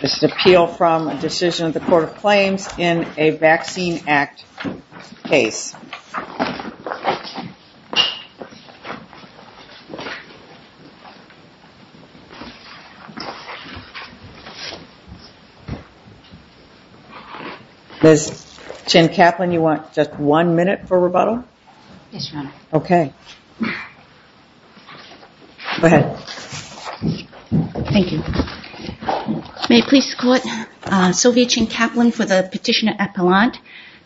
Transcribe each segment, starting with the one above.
This is an appeal from a decision of the Court of Claims in a Vaccine Act case. Ms. Chen-Kaplan, you want just one minute for rebuttal? Yes, Your Honor. Okay. Go ahead. Thank you. May it please the Court, Sylvia Chen-Kaplan for the Petitioner Appellant.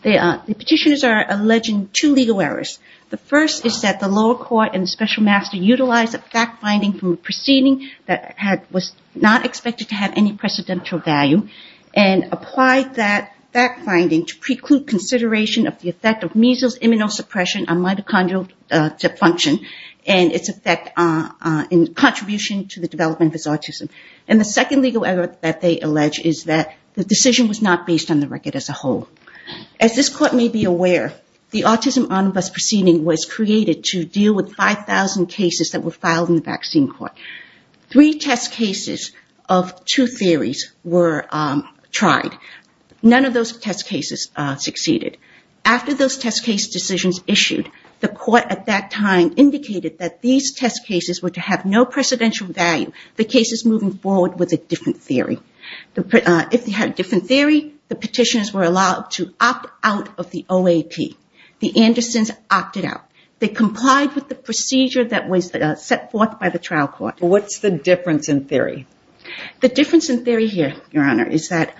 The petitioners are alleging two legal errors. The first is that the lower court and the special master utilized a fact-finding from a proceeding that was not expected to have any precedential value and applied that fact-finding to preclude consideration of the effect of depression on mitochondrial dysfunction and its effect in contribution to the development of autism. And the second legal error that they allege is that the decision was not based on the record as a whole. As this court may be aware, the autism omnibus proceeding was created to deal with 5,000 cases that were filed in the vaccine court. Three test cases of two theories were tried. None of those test cases succeeded. After those test case decisions issued, the court at that time indicated that these test cases were to have no precedential value. The case is moving forward with a different theory. If they had a different theory, the petitioners were allowed to opt out of the OAP. The Andersons opted out. They complied with the procedure that was set forth by the trial court. What's the difference in theory? The difference in theory here, Your Honor, is that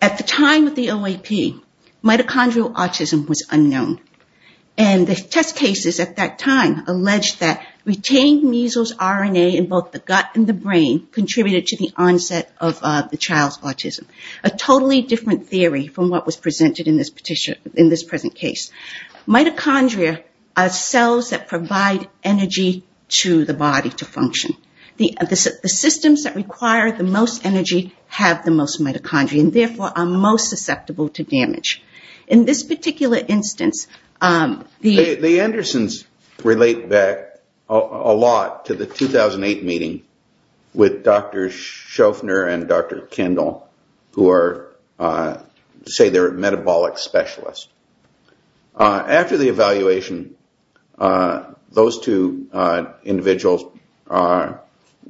at the time of the OAP, mitochondrial autism was unknown. And the test cases at that time alleged that retained measles RNA in both the gut and the brain contributed to the onset of the child's autism, a totally different theory from what was presented in this present case. Mitochondria are cells that provide energy to the body to function. The systems that require the most energy have the most mitochondria and, therefore, are most susceptible to damage. In this particular instance, the The Andersons relate back a lot to the 2008 meeting with Dr. Shofner and Dr. Kendall, who are, say, their metabolic specialists. After the evaluation, those two individuals purportedly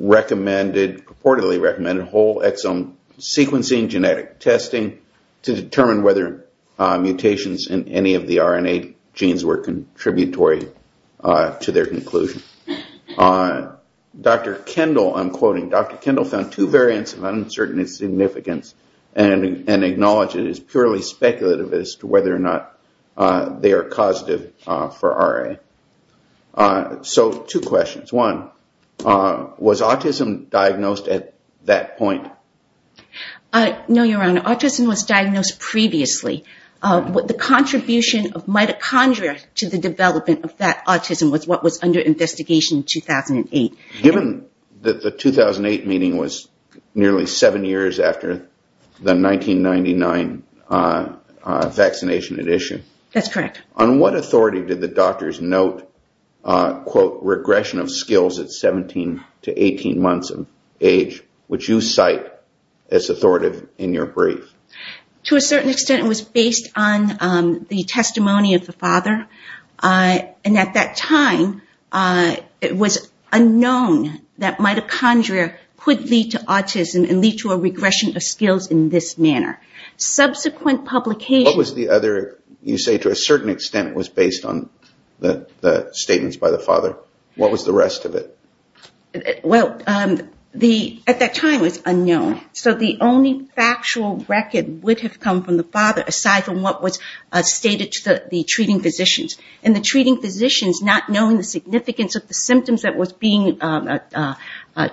recommended whole exome sequencing, genetic testing to determine whether mutations in any of the RNA genes were contributory to their conclusion. Dr. Kendall, I'm quoting, Dr. Kendall found two variants of uncertainty of significance and acknowledged it as purely speculative as to whether or not they are causative for RNA. So two questions. One, was autism diagnosed at that point? No, Your Honor. Autism was diagnosed previously. The contribution of mitochondria to the Given that the 2008 meeting was nearly seven years after the 1999 vaccination edition, on what authority did the doctors note, quote, regression of skills at 17 to 18 months of age, which you cite as authoritative in your brief? To a certain extent, it was based on the testimony of the father. And at that time, it was unknown that mitochondria could lead to autism and lead to a regression of skills in this manner. Subsequent publication What was the other, you say, to a certain extent was based on the statements by the father. What was the rest of it? Well, at that time it was unknown. So the only factual record would have come from the father aside from what was stated to the treating physicians. And the treating physicians not knowing the significance of the symptoms that was being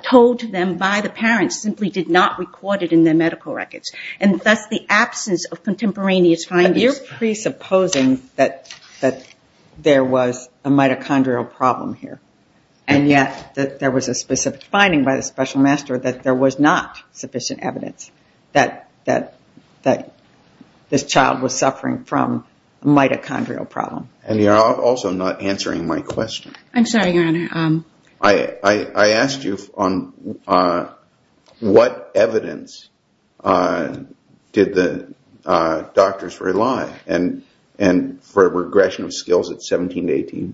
told to them by the parents simply did not record it in their medical records. And thus the absence of contemporaneous findings. You're presupposing that there was a mitochondrial problem here. And yet there was a specific finding by the special master that there was not sufficient evidence that this child was suffering from a mitochondrial problem. And you're also not answering my question. I'm sorry, Your Honor. I asked you on what evidence did the doctors rely and for a regression of skills at 17-18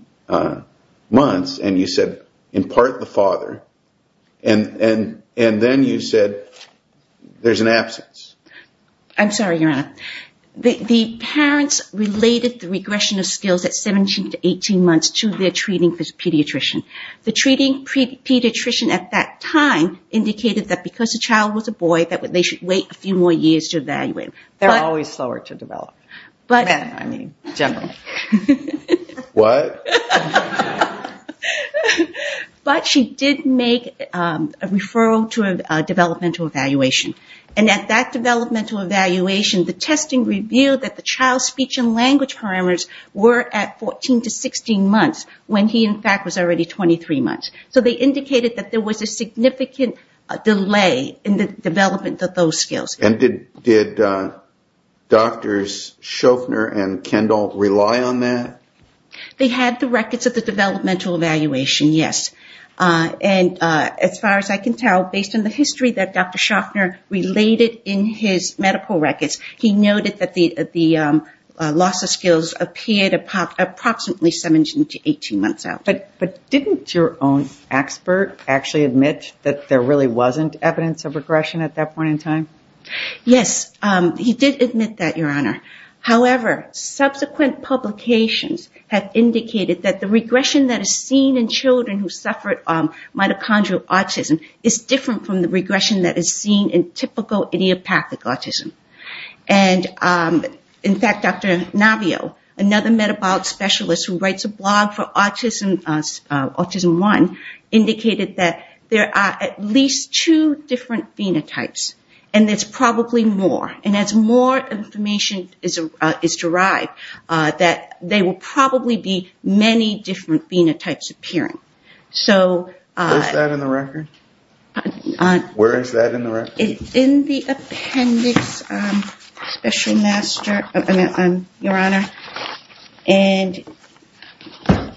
months. And you said in part the father. And then you said there's an absence. I'm sorry, Your Honor. The parents related the regression of skills at 17-18 months to their treating pediatrician. The treating pediatrician at that time indicated that because the child was a boy that they should wait a few more years to evaluate. They're always slower to develop. I mean, generally. What? But she did make a referral to a developmental evaluation. And at that developmental evaluation the testing revealed that the child's speech and language parameters were at 14-16 months when he in fact was already 23 months. So they indicated that there was a significant delay in the development of those skills. And did Drs. Shoffner and Kendall rely on that? They had the records of the developmental evaluation, yes. And as far as I can tell, based on the evidence, he noted that the loss of skills appeared approximately 17-18 months out. But didn't your own expert actually admit that there really wasn't evidence of regression at that point in time? Yes, he did admit that, Your Honor. However, subsequent publications have indicated that the regression that is seen in children who suffered mitochondrial autism is different from the regression that is seen in typical idiopathic autism. And in fact, Dr. Navio, another metabolic specialist who writes a blog for autism one, indicated that there are at least two different phenotypes. And there's probably more. And as more information is derived, that there will probably be many different phenotypes appearing. Where is that in the record? Where is that in the record? In the appendix, Your Honor. Thank you, Your Honor.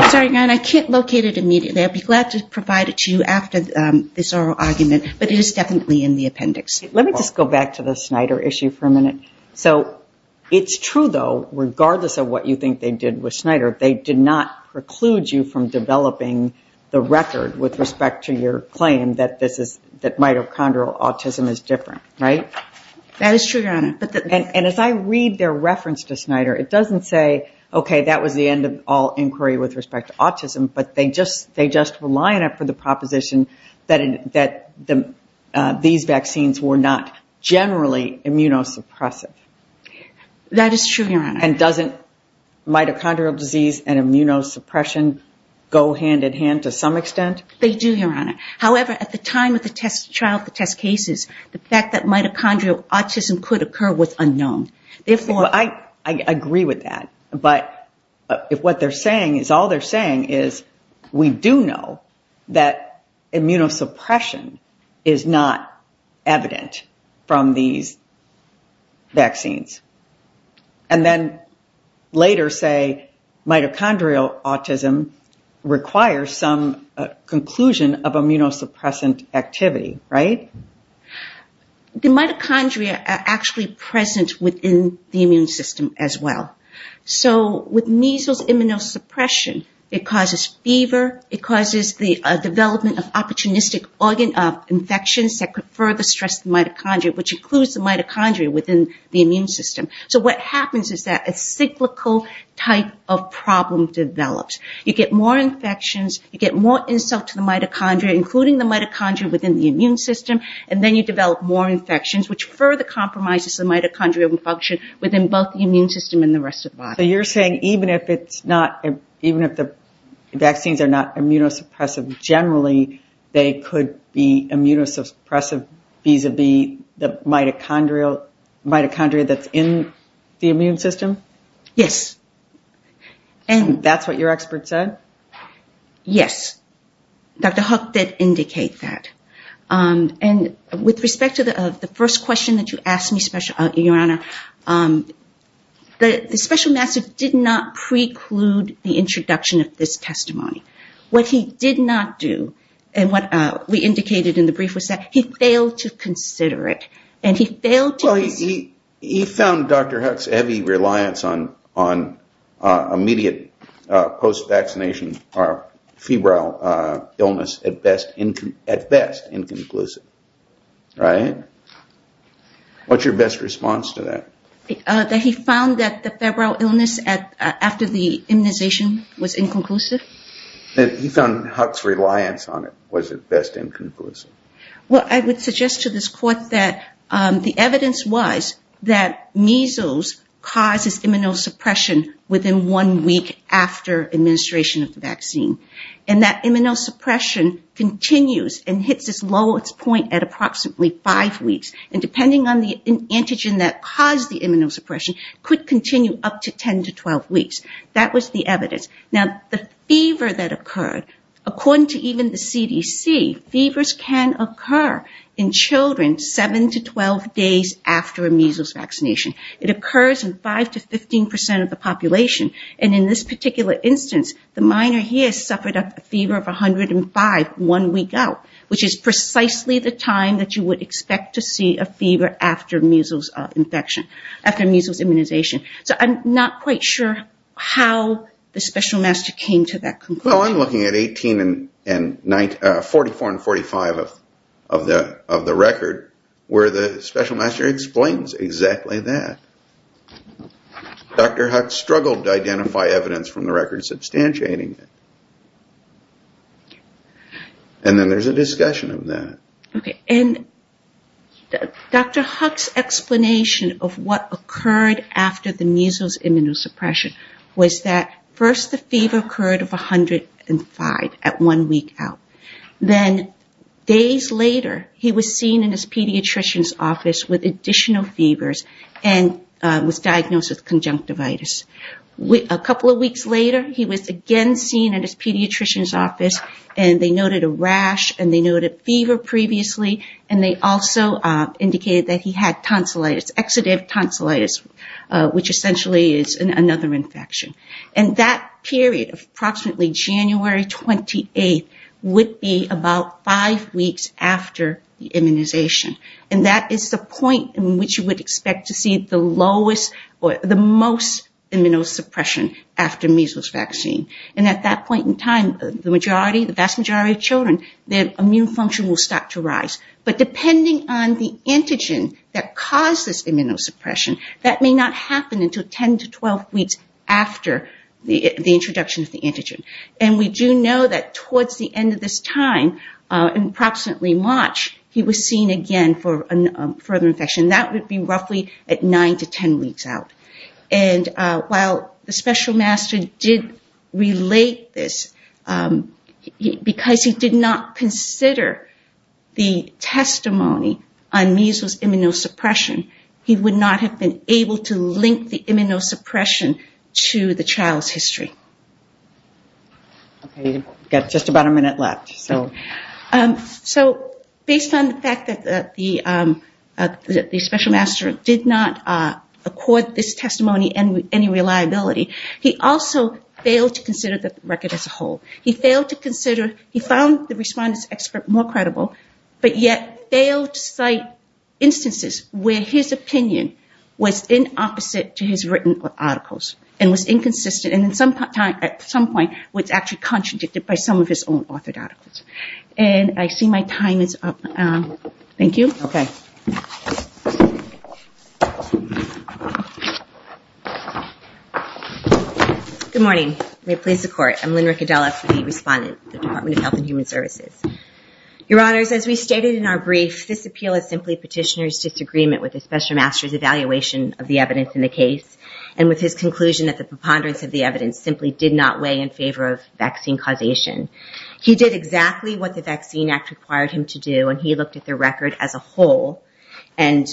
I'm sorry, Your Honor, I can't locate it immediately. I'd be glad to provide it to you after this oral argument. But it is definitely in the appendix. Let me just go back to the Snyder issue for a minute. So it's true, though, regardless of what you think they did with Snyder, they did not preclude you from developing the record with respect to your claim that mitochondrial autism is different, right? That is true, Your Honor. And as I read their reference to Snyder, it doesn't say, okay, that was the end of all inquiry with respect to autism, but they just were lying up for the proposition that these vaccines were not generally immunosuppressive. That is true, Your Honor. And doesn't mitochondrial disease and immunosuppression go hand in hand to some extent? They do, Your Honor. However, at the time of the trial of the test cases, the fact that mitochondrial autism could occur was unknown. I agree with that. But if what they're saying is all they're saying is we do know that immunosuppression is not evident from these vaccines, and then later say mitochondrial autism requires some conclusion of immunosuppressant activity, right? The mitochondria are actually present within the immune system as well. So with measles immunosuppression, it causes fever, it causes the development of opportunistic organ infections that could further stress the mitochondria, which includes the mitochondria within the immune system. So what happens is that a cyclical type of problem develops. You get more infections, you get more insult to the mitochondria, including the mitochondria within the immune system, and then you develop more infections, which further compromises the mitochondrial function within both the immune system and the rest of the body. So you're saying even if the vaccines are not immunosuppressive generally, they could be immunosuppressive vis-a-vis the mitochondria that's in the immune system? Yes. And that's what your expert said? Yes. Dr. Hook did indicate that. And with respect to the first question that you asked me, Your Honor, the special master did not answer that question. Well, he found Dr. Hook's heavy reliance on immediate post-vaccination febrile illness at best inconclusive, right? What's your best response to that? That he found that the febrile illness after the immunization was inconclusive? And he found Hook's reliance on it was at best inconclusive. Well, I would suggest to this Court that the evidence was that measles causes immunosuppression within one week after administration of the vaccine. And that immunosuppression continues and hits its lowest point at approximately five weeks. And depending on the antigen that caused the immunosuppression, it could continue up to 10 to 12 weeks. That was the evidence. Now, the fever that occurred, according to even the CDC, fevers can occur in children seven to 12 days after a measles vaccination. It occurs in 5 to 15% of the population. And in this particular instance, the minor here suffered a fever of 105 one week out, which is precisely the time that you would expect to see a fever after measles immunization. So I'm not quite sure how the special master came to that conclusion. Well, I'm looking at 18 and 44 and 45 of the record where the special master explains exactly that. Dr. Hook struggled to identify evidence from the record substantiating it. And then there's a discussion of that. Okay. And Dr. Hook's explanation of what occurred after the measles immunosuppression came to that conclusion is that first the fever occurred of 105 at one week out. Then days later, he was seen in his pediatrician's office with additional fevers and was diagnosed with conjunctivitis. A couple of weeks later, he was again seen in his pediatrician's office and they noted a rash and they noted fever previously. And they also indicated that he had tonsillitis, exudative tonsillitis, which essentially is another infection. And that period of approximately January 28th would be about five weeks after the immunization. And that is the point in which you would expect to see the lowest or the most immunosuppression after measles vaccine. And at that point in time, the vast majority of children, their immune function will start to rise. But depending on the vaccine, it will continue until 10 to 12 weeks after the introduction of the antigen. And we do know that towards the end of this time, approximately March, he was seen again for further infection. That would be roughly at 9 to 10 weeks out. And while the special master did relate this, because he did not consider the testimony on measles immunosuppression, he would not have been able to link the immunosuppression to the child's history. So based on the fact that the special master did not accord this testimony any reliability, he also failed to consider the record as a whole. He failed to consider, he found the respondent's expert more credible, but yet failed to cite instances where his opinion was inopposite to his written articles and was inconsistent and at some point was actually contradicted by some of his own authored articles. And I see my time is up. Thank you. Good morning. May it please the court. I'm Lynn Riccadella, the respondent of the Department of Health and Human Services. Your question is, did the special master weigh in favor of vaccine causation? He did exactly what the vaccine act required him to do and he looked at the record as a whole and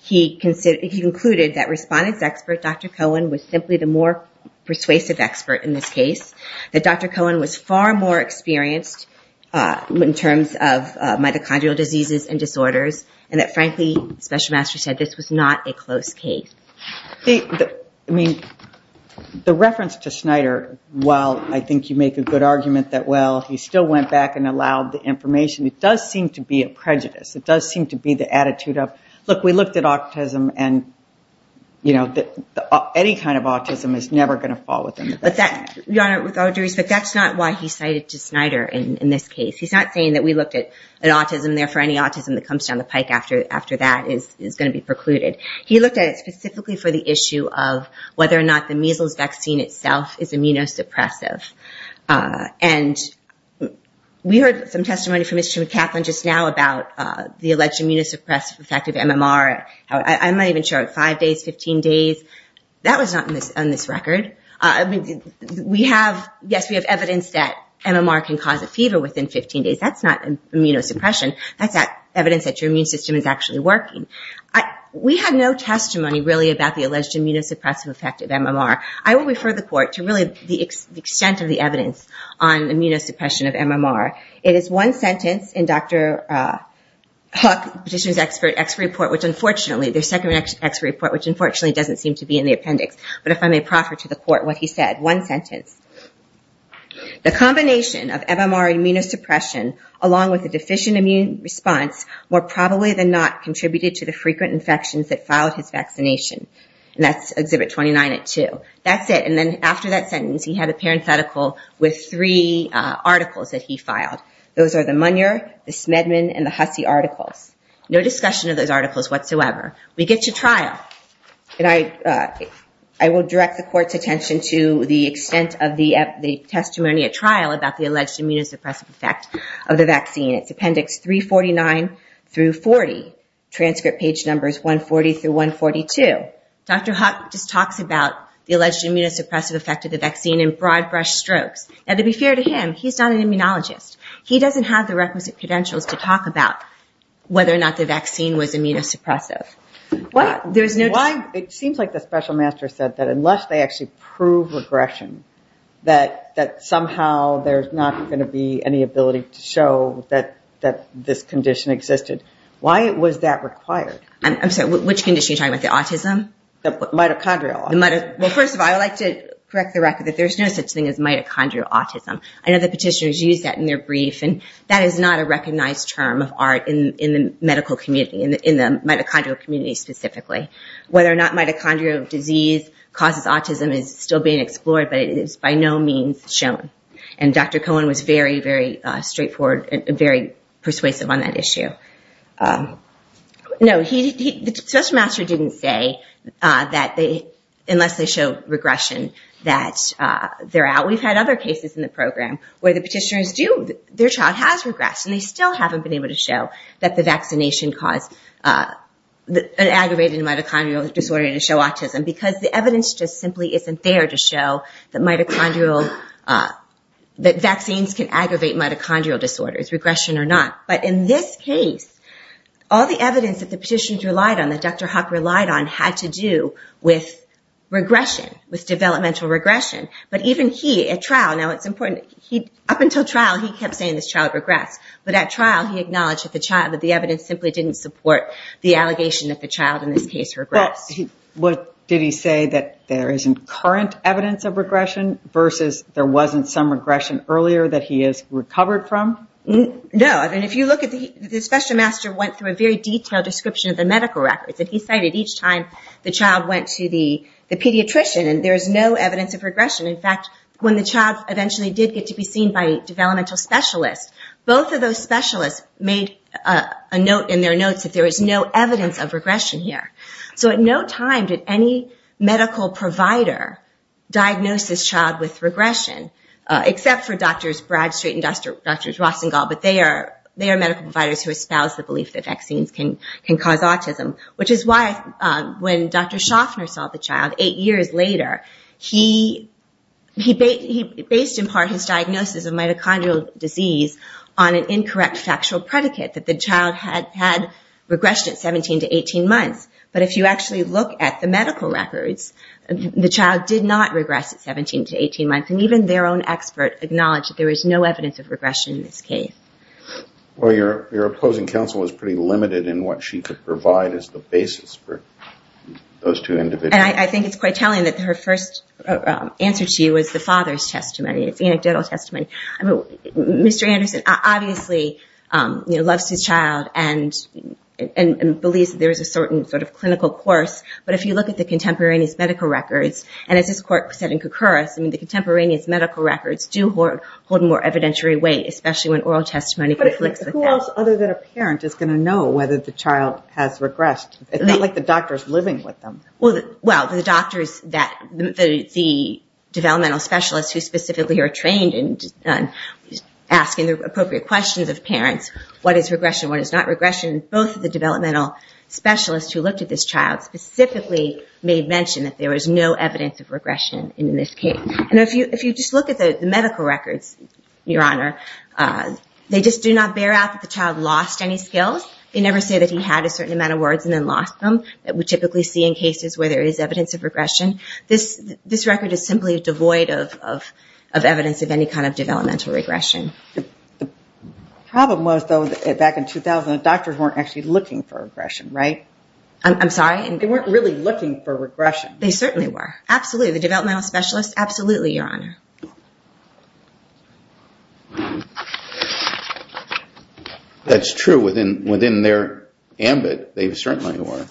he concluded that respondent's expert, Dr. Cohen, was simply the more persuasive expert in this case. That Dr. Cohen was far more experienced in terms of mitochondrial diseases and disorders and that frankly, the special master said this was not a close case. I mean, the reference to Snyder, while I think you make a good argument that, well, he still went back and allowed the information, it does seem to be a prejudice. It does seem to be the attitude of, look, we looked at autism and, you know, any kind of autism is never going to fall within that. With all due respect, that's not why he cited Snyder in this case. He's not saying that we looked at autism and therefore any autism that comes down the pike after that is going to be precluded. He looked at it specifically for the issue of whether or not the measles vaccine itself is immunosuppressive. And we heard some testimony from Mr. McCathlin just now about the alleged immunosuppressive effect of MMR. I'm going to refer the court to really the extent of the evidence on immunosuppression of MMR. It is one sentence in Dr. Hook's expert report, which unfortunately doesn't seem to be in the appendix, but if I may proffer to the court what he said. One sentence in Dr. Hook's expert report. One sentence. The combination of MMR immunosuppression along with the deficient immune response more probably than not contributed to the frequent infections that followed his vaccination. And that's Exhibit 29 at 2. That's it. And then after that sentence he had a parenthetical with three articles that he filed. Those are the Munyer, the Smedman, and the Hussey articles. No discussion of those articles whatsoever. We get to trial. And I will direct the court's attention to the extent of the evidence in the trial about the alleged immunosuppressive effect of the vaccine. It's Appendix 349 through 40. Transcript page numbers 140 through 142. Dr. Hook just talks about the alleged immunosuppressive effect of the vaccine in broad brush strokes. And to be fair to him, he's not an immunologist. He doesn't have the requisite credentials to talk about whether or not the vaccine was immunosuppressive. It seems like the special master said that unless they actually prove regression, that somehow there's not going to be any ability to show that this condition existed. Why was that required? I'm sorry. Which condition are you talking about? The autism? The mitochondrial. First of all, I would like to correct the record that there's no such thing as mitochondrial autism. I know the petitioners use that in their brief. And that is not a recognized term of art in the medical community, in the mitochondrial community specifically. Whether or not mitochondrial disease causes autism is still being explored, but it is by no means shown. And Dr. Cohen was very, very straightforward and very persuasive on that issue. No, the special master didn't say that unless they show regression that they're out. We've had other cases in the program where the petitioners do, their child has regressed, and they still haven't been able to show that the vaccination caused an aggravated mitochondrial disorder to show autism, because the evidence just simply isn't there to show that vaccines can aggravate mitochondrial disorders, regression or not. But in this case, all the evidence that the petitioners relied on, that Dr. Huck relied on, had to do with regression, with developmental regression. But even he, at trial, now it's important, up until trial, he kept saying this child regressed. But at trial, he acknowledged that the evidence simply didn't support the allegation that the child in this case regressed. But did he say that there isn't current evidence of regression versus there wasn't some regression earlier that he has recovered from? No, and if you look at the special master went through a very detailed description of the medical records that he cited each time the child went to the pediatrician, and there's no evidence of regression. In fact, when the child eventually did get to be seen by a developmental specialist, both of those specialists made a note in their notes that there is no evidence of regression here. So at no time did any medical provider diagnose this child with regression, except for Drs. Bradstreet and Drs. Rossengall, but they are medical providers who espouse the fact that vaccines can cause autism, which is why when Dr. Schaffner saw the child eight years later, he based in part his diagnosis of mitochondrial disease on an incorrect factual predicate that the child had regressed at 17 to 18 months. But if you actually look at the medical records, the child did not regress at 17 to 18 months, and even their own expert acknowledged that there was no evidence of regression. So Drs. Bradstreet and Drs. Rossengall did not have any evidence of regression. And I think it's quite telling that her first answer to you was the father's testimony. It's anecdotal testimony. Mr. Anderson obviously loves his child and believes there is a certain sort of clinical course, but if you look at the contemporaneous medical records, and as this court said in the case, it's not known whether the child has regressed. It's not like the doctor is living with them. Well, the doctors, the developmental specialists who specifically are trained in asking the appropriate questions of parents, what is regression, what is not regression, both of the developmental specialists who looked at this child specifically made mention that there was no evidence of regression in this case. And if you just look at the medical records, Your Honor, they just do not bear out that the child lost any skills. They never say that he had a certain amount of words and then lost them that we typically see in cases where there is evidence of regression. This record is simply devoid of evidence of any kind of developmental regression. The problem was, though, back in 2000, the doctors weren't actually looking for regression, right? I'm sorry? They weren't really looking for regression. They certainly were. Absolutely. The developmental specialists, absolutely, Your Honor. That's true. Within their ambit, they certainly were.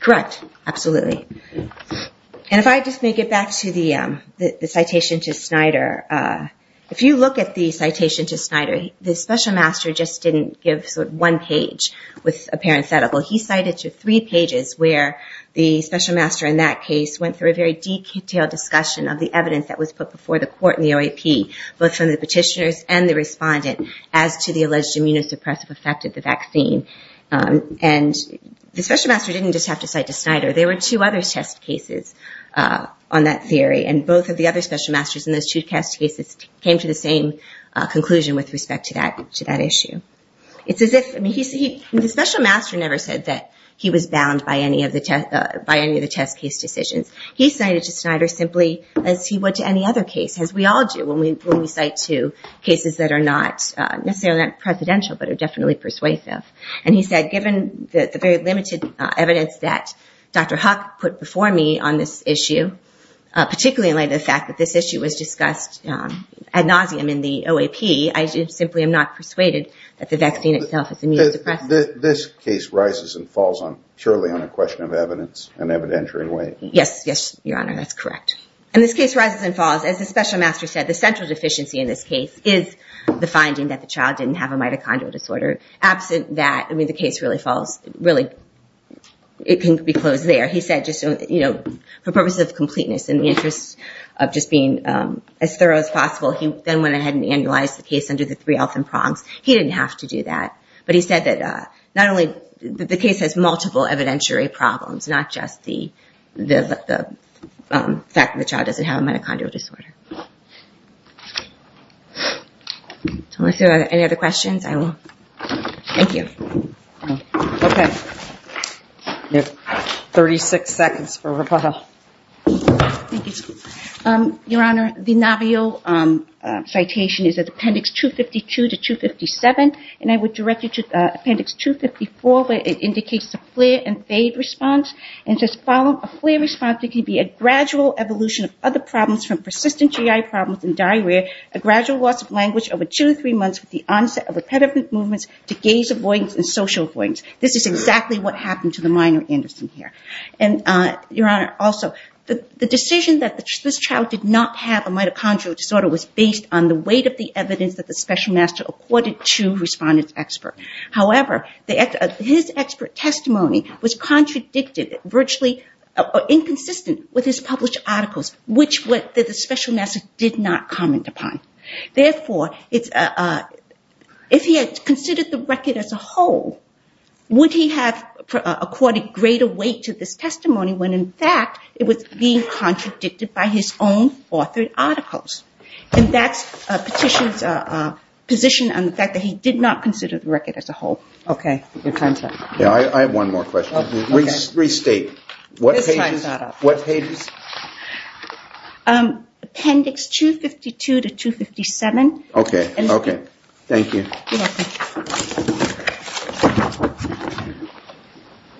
Correct. Absolutely. And if I just may get back to the citation to Snyder, if you look at the citation to Snyder, the special master just didn't give sort of one page with a parent's medical. He cited to three pages where the special master in that case went through a very detailed discussion of the evidence that was put before the court and the OAP, both from the petitioners and the respondent, as to the alleged immunosuppressive effect of the vaccine. And the special master didn't just have to cite to Snyder. There were two other test cases on that theory. And both of the other special masters in those two test cases came to the same conclusion with respect to that issue. It's as if the special master never said that he was bound by any of the test case decisions. He cited to Snyder simply as he would to any other case, as we all do when we cite to cases that are not necessarily presidential, but are definitely persuasive. And he said, given the very limited evidence that Dr. Huck put before me on this issue, particularly in light of the fact that this issue was discussed ad nauseum in the OAP, I simply am not persuaded that the vaccine itself is immunosuppressive. This case rises and falls purely on a question of evidence in an evidentiary way. Yes, Your Honor, that's correct. And this case rises and falls. As the special master said, the central deficiency in this case is the finding that the child didn't have a mitochondrial disorder. Absent that, I mean, the case really falls, really, it can be closed there. He said, you know, for purposes of completeness, in the interest of just being as thorough as possible, he then went ahead and annualized the case under the three L's and prongs. He didn't have to do that. But he said that not only the case has multiple evidentiary problems, not just the fact that the child doesn't have a mitochondrial disorder. Any other questions? Thank you. Okay. You have 36 seconds for rebuttal. Thank you. Your Honor, the Navio citation is at appendix 252 to 257. And I would direct you to appendix 254 where it indicates the flare and fade response. And it says, follow a flare response that can be a gradual evolution of other problems from persistent GI problems and diarrhea, a gradual loss of language over two to three months with the onset of repetitive movements to gaze-avoidance and social avoidance. This is exactly what happened to the minor Anderson here. Your Honor, also, the decision that this child did not have a mitochondrial disorder was based on the weight of the evidence that the special master accorded to the respondent's expert. However, his expert testimony was contradicted, virtually inconsistent with his published articles, which the special master did not comment upon. Therefore, if he had considered the record as a whole, would he have accorded greater weight to this testimony when, in fact, it was being contradicted by his own authored articles? And that's Petitioner's position on the fact that he did not consider the record as a whole. Okay. Your time is up. I have one more question. Restate. Okay. Thank you.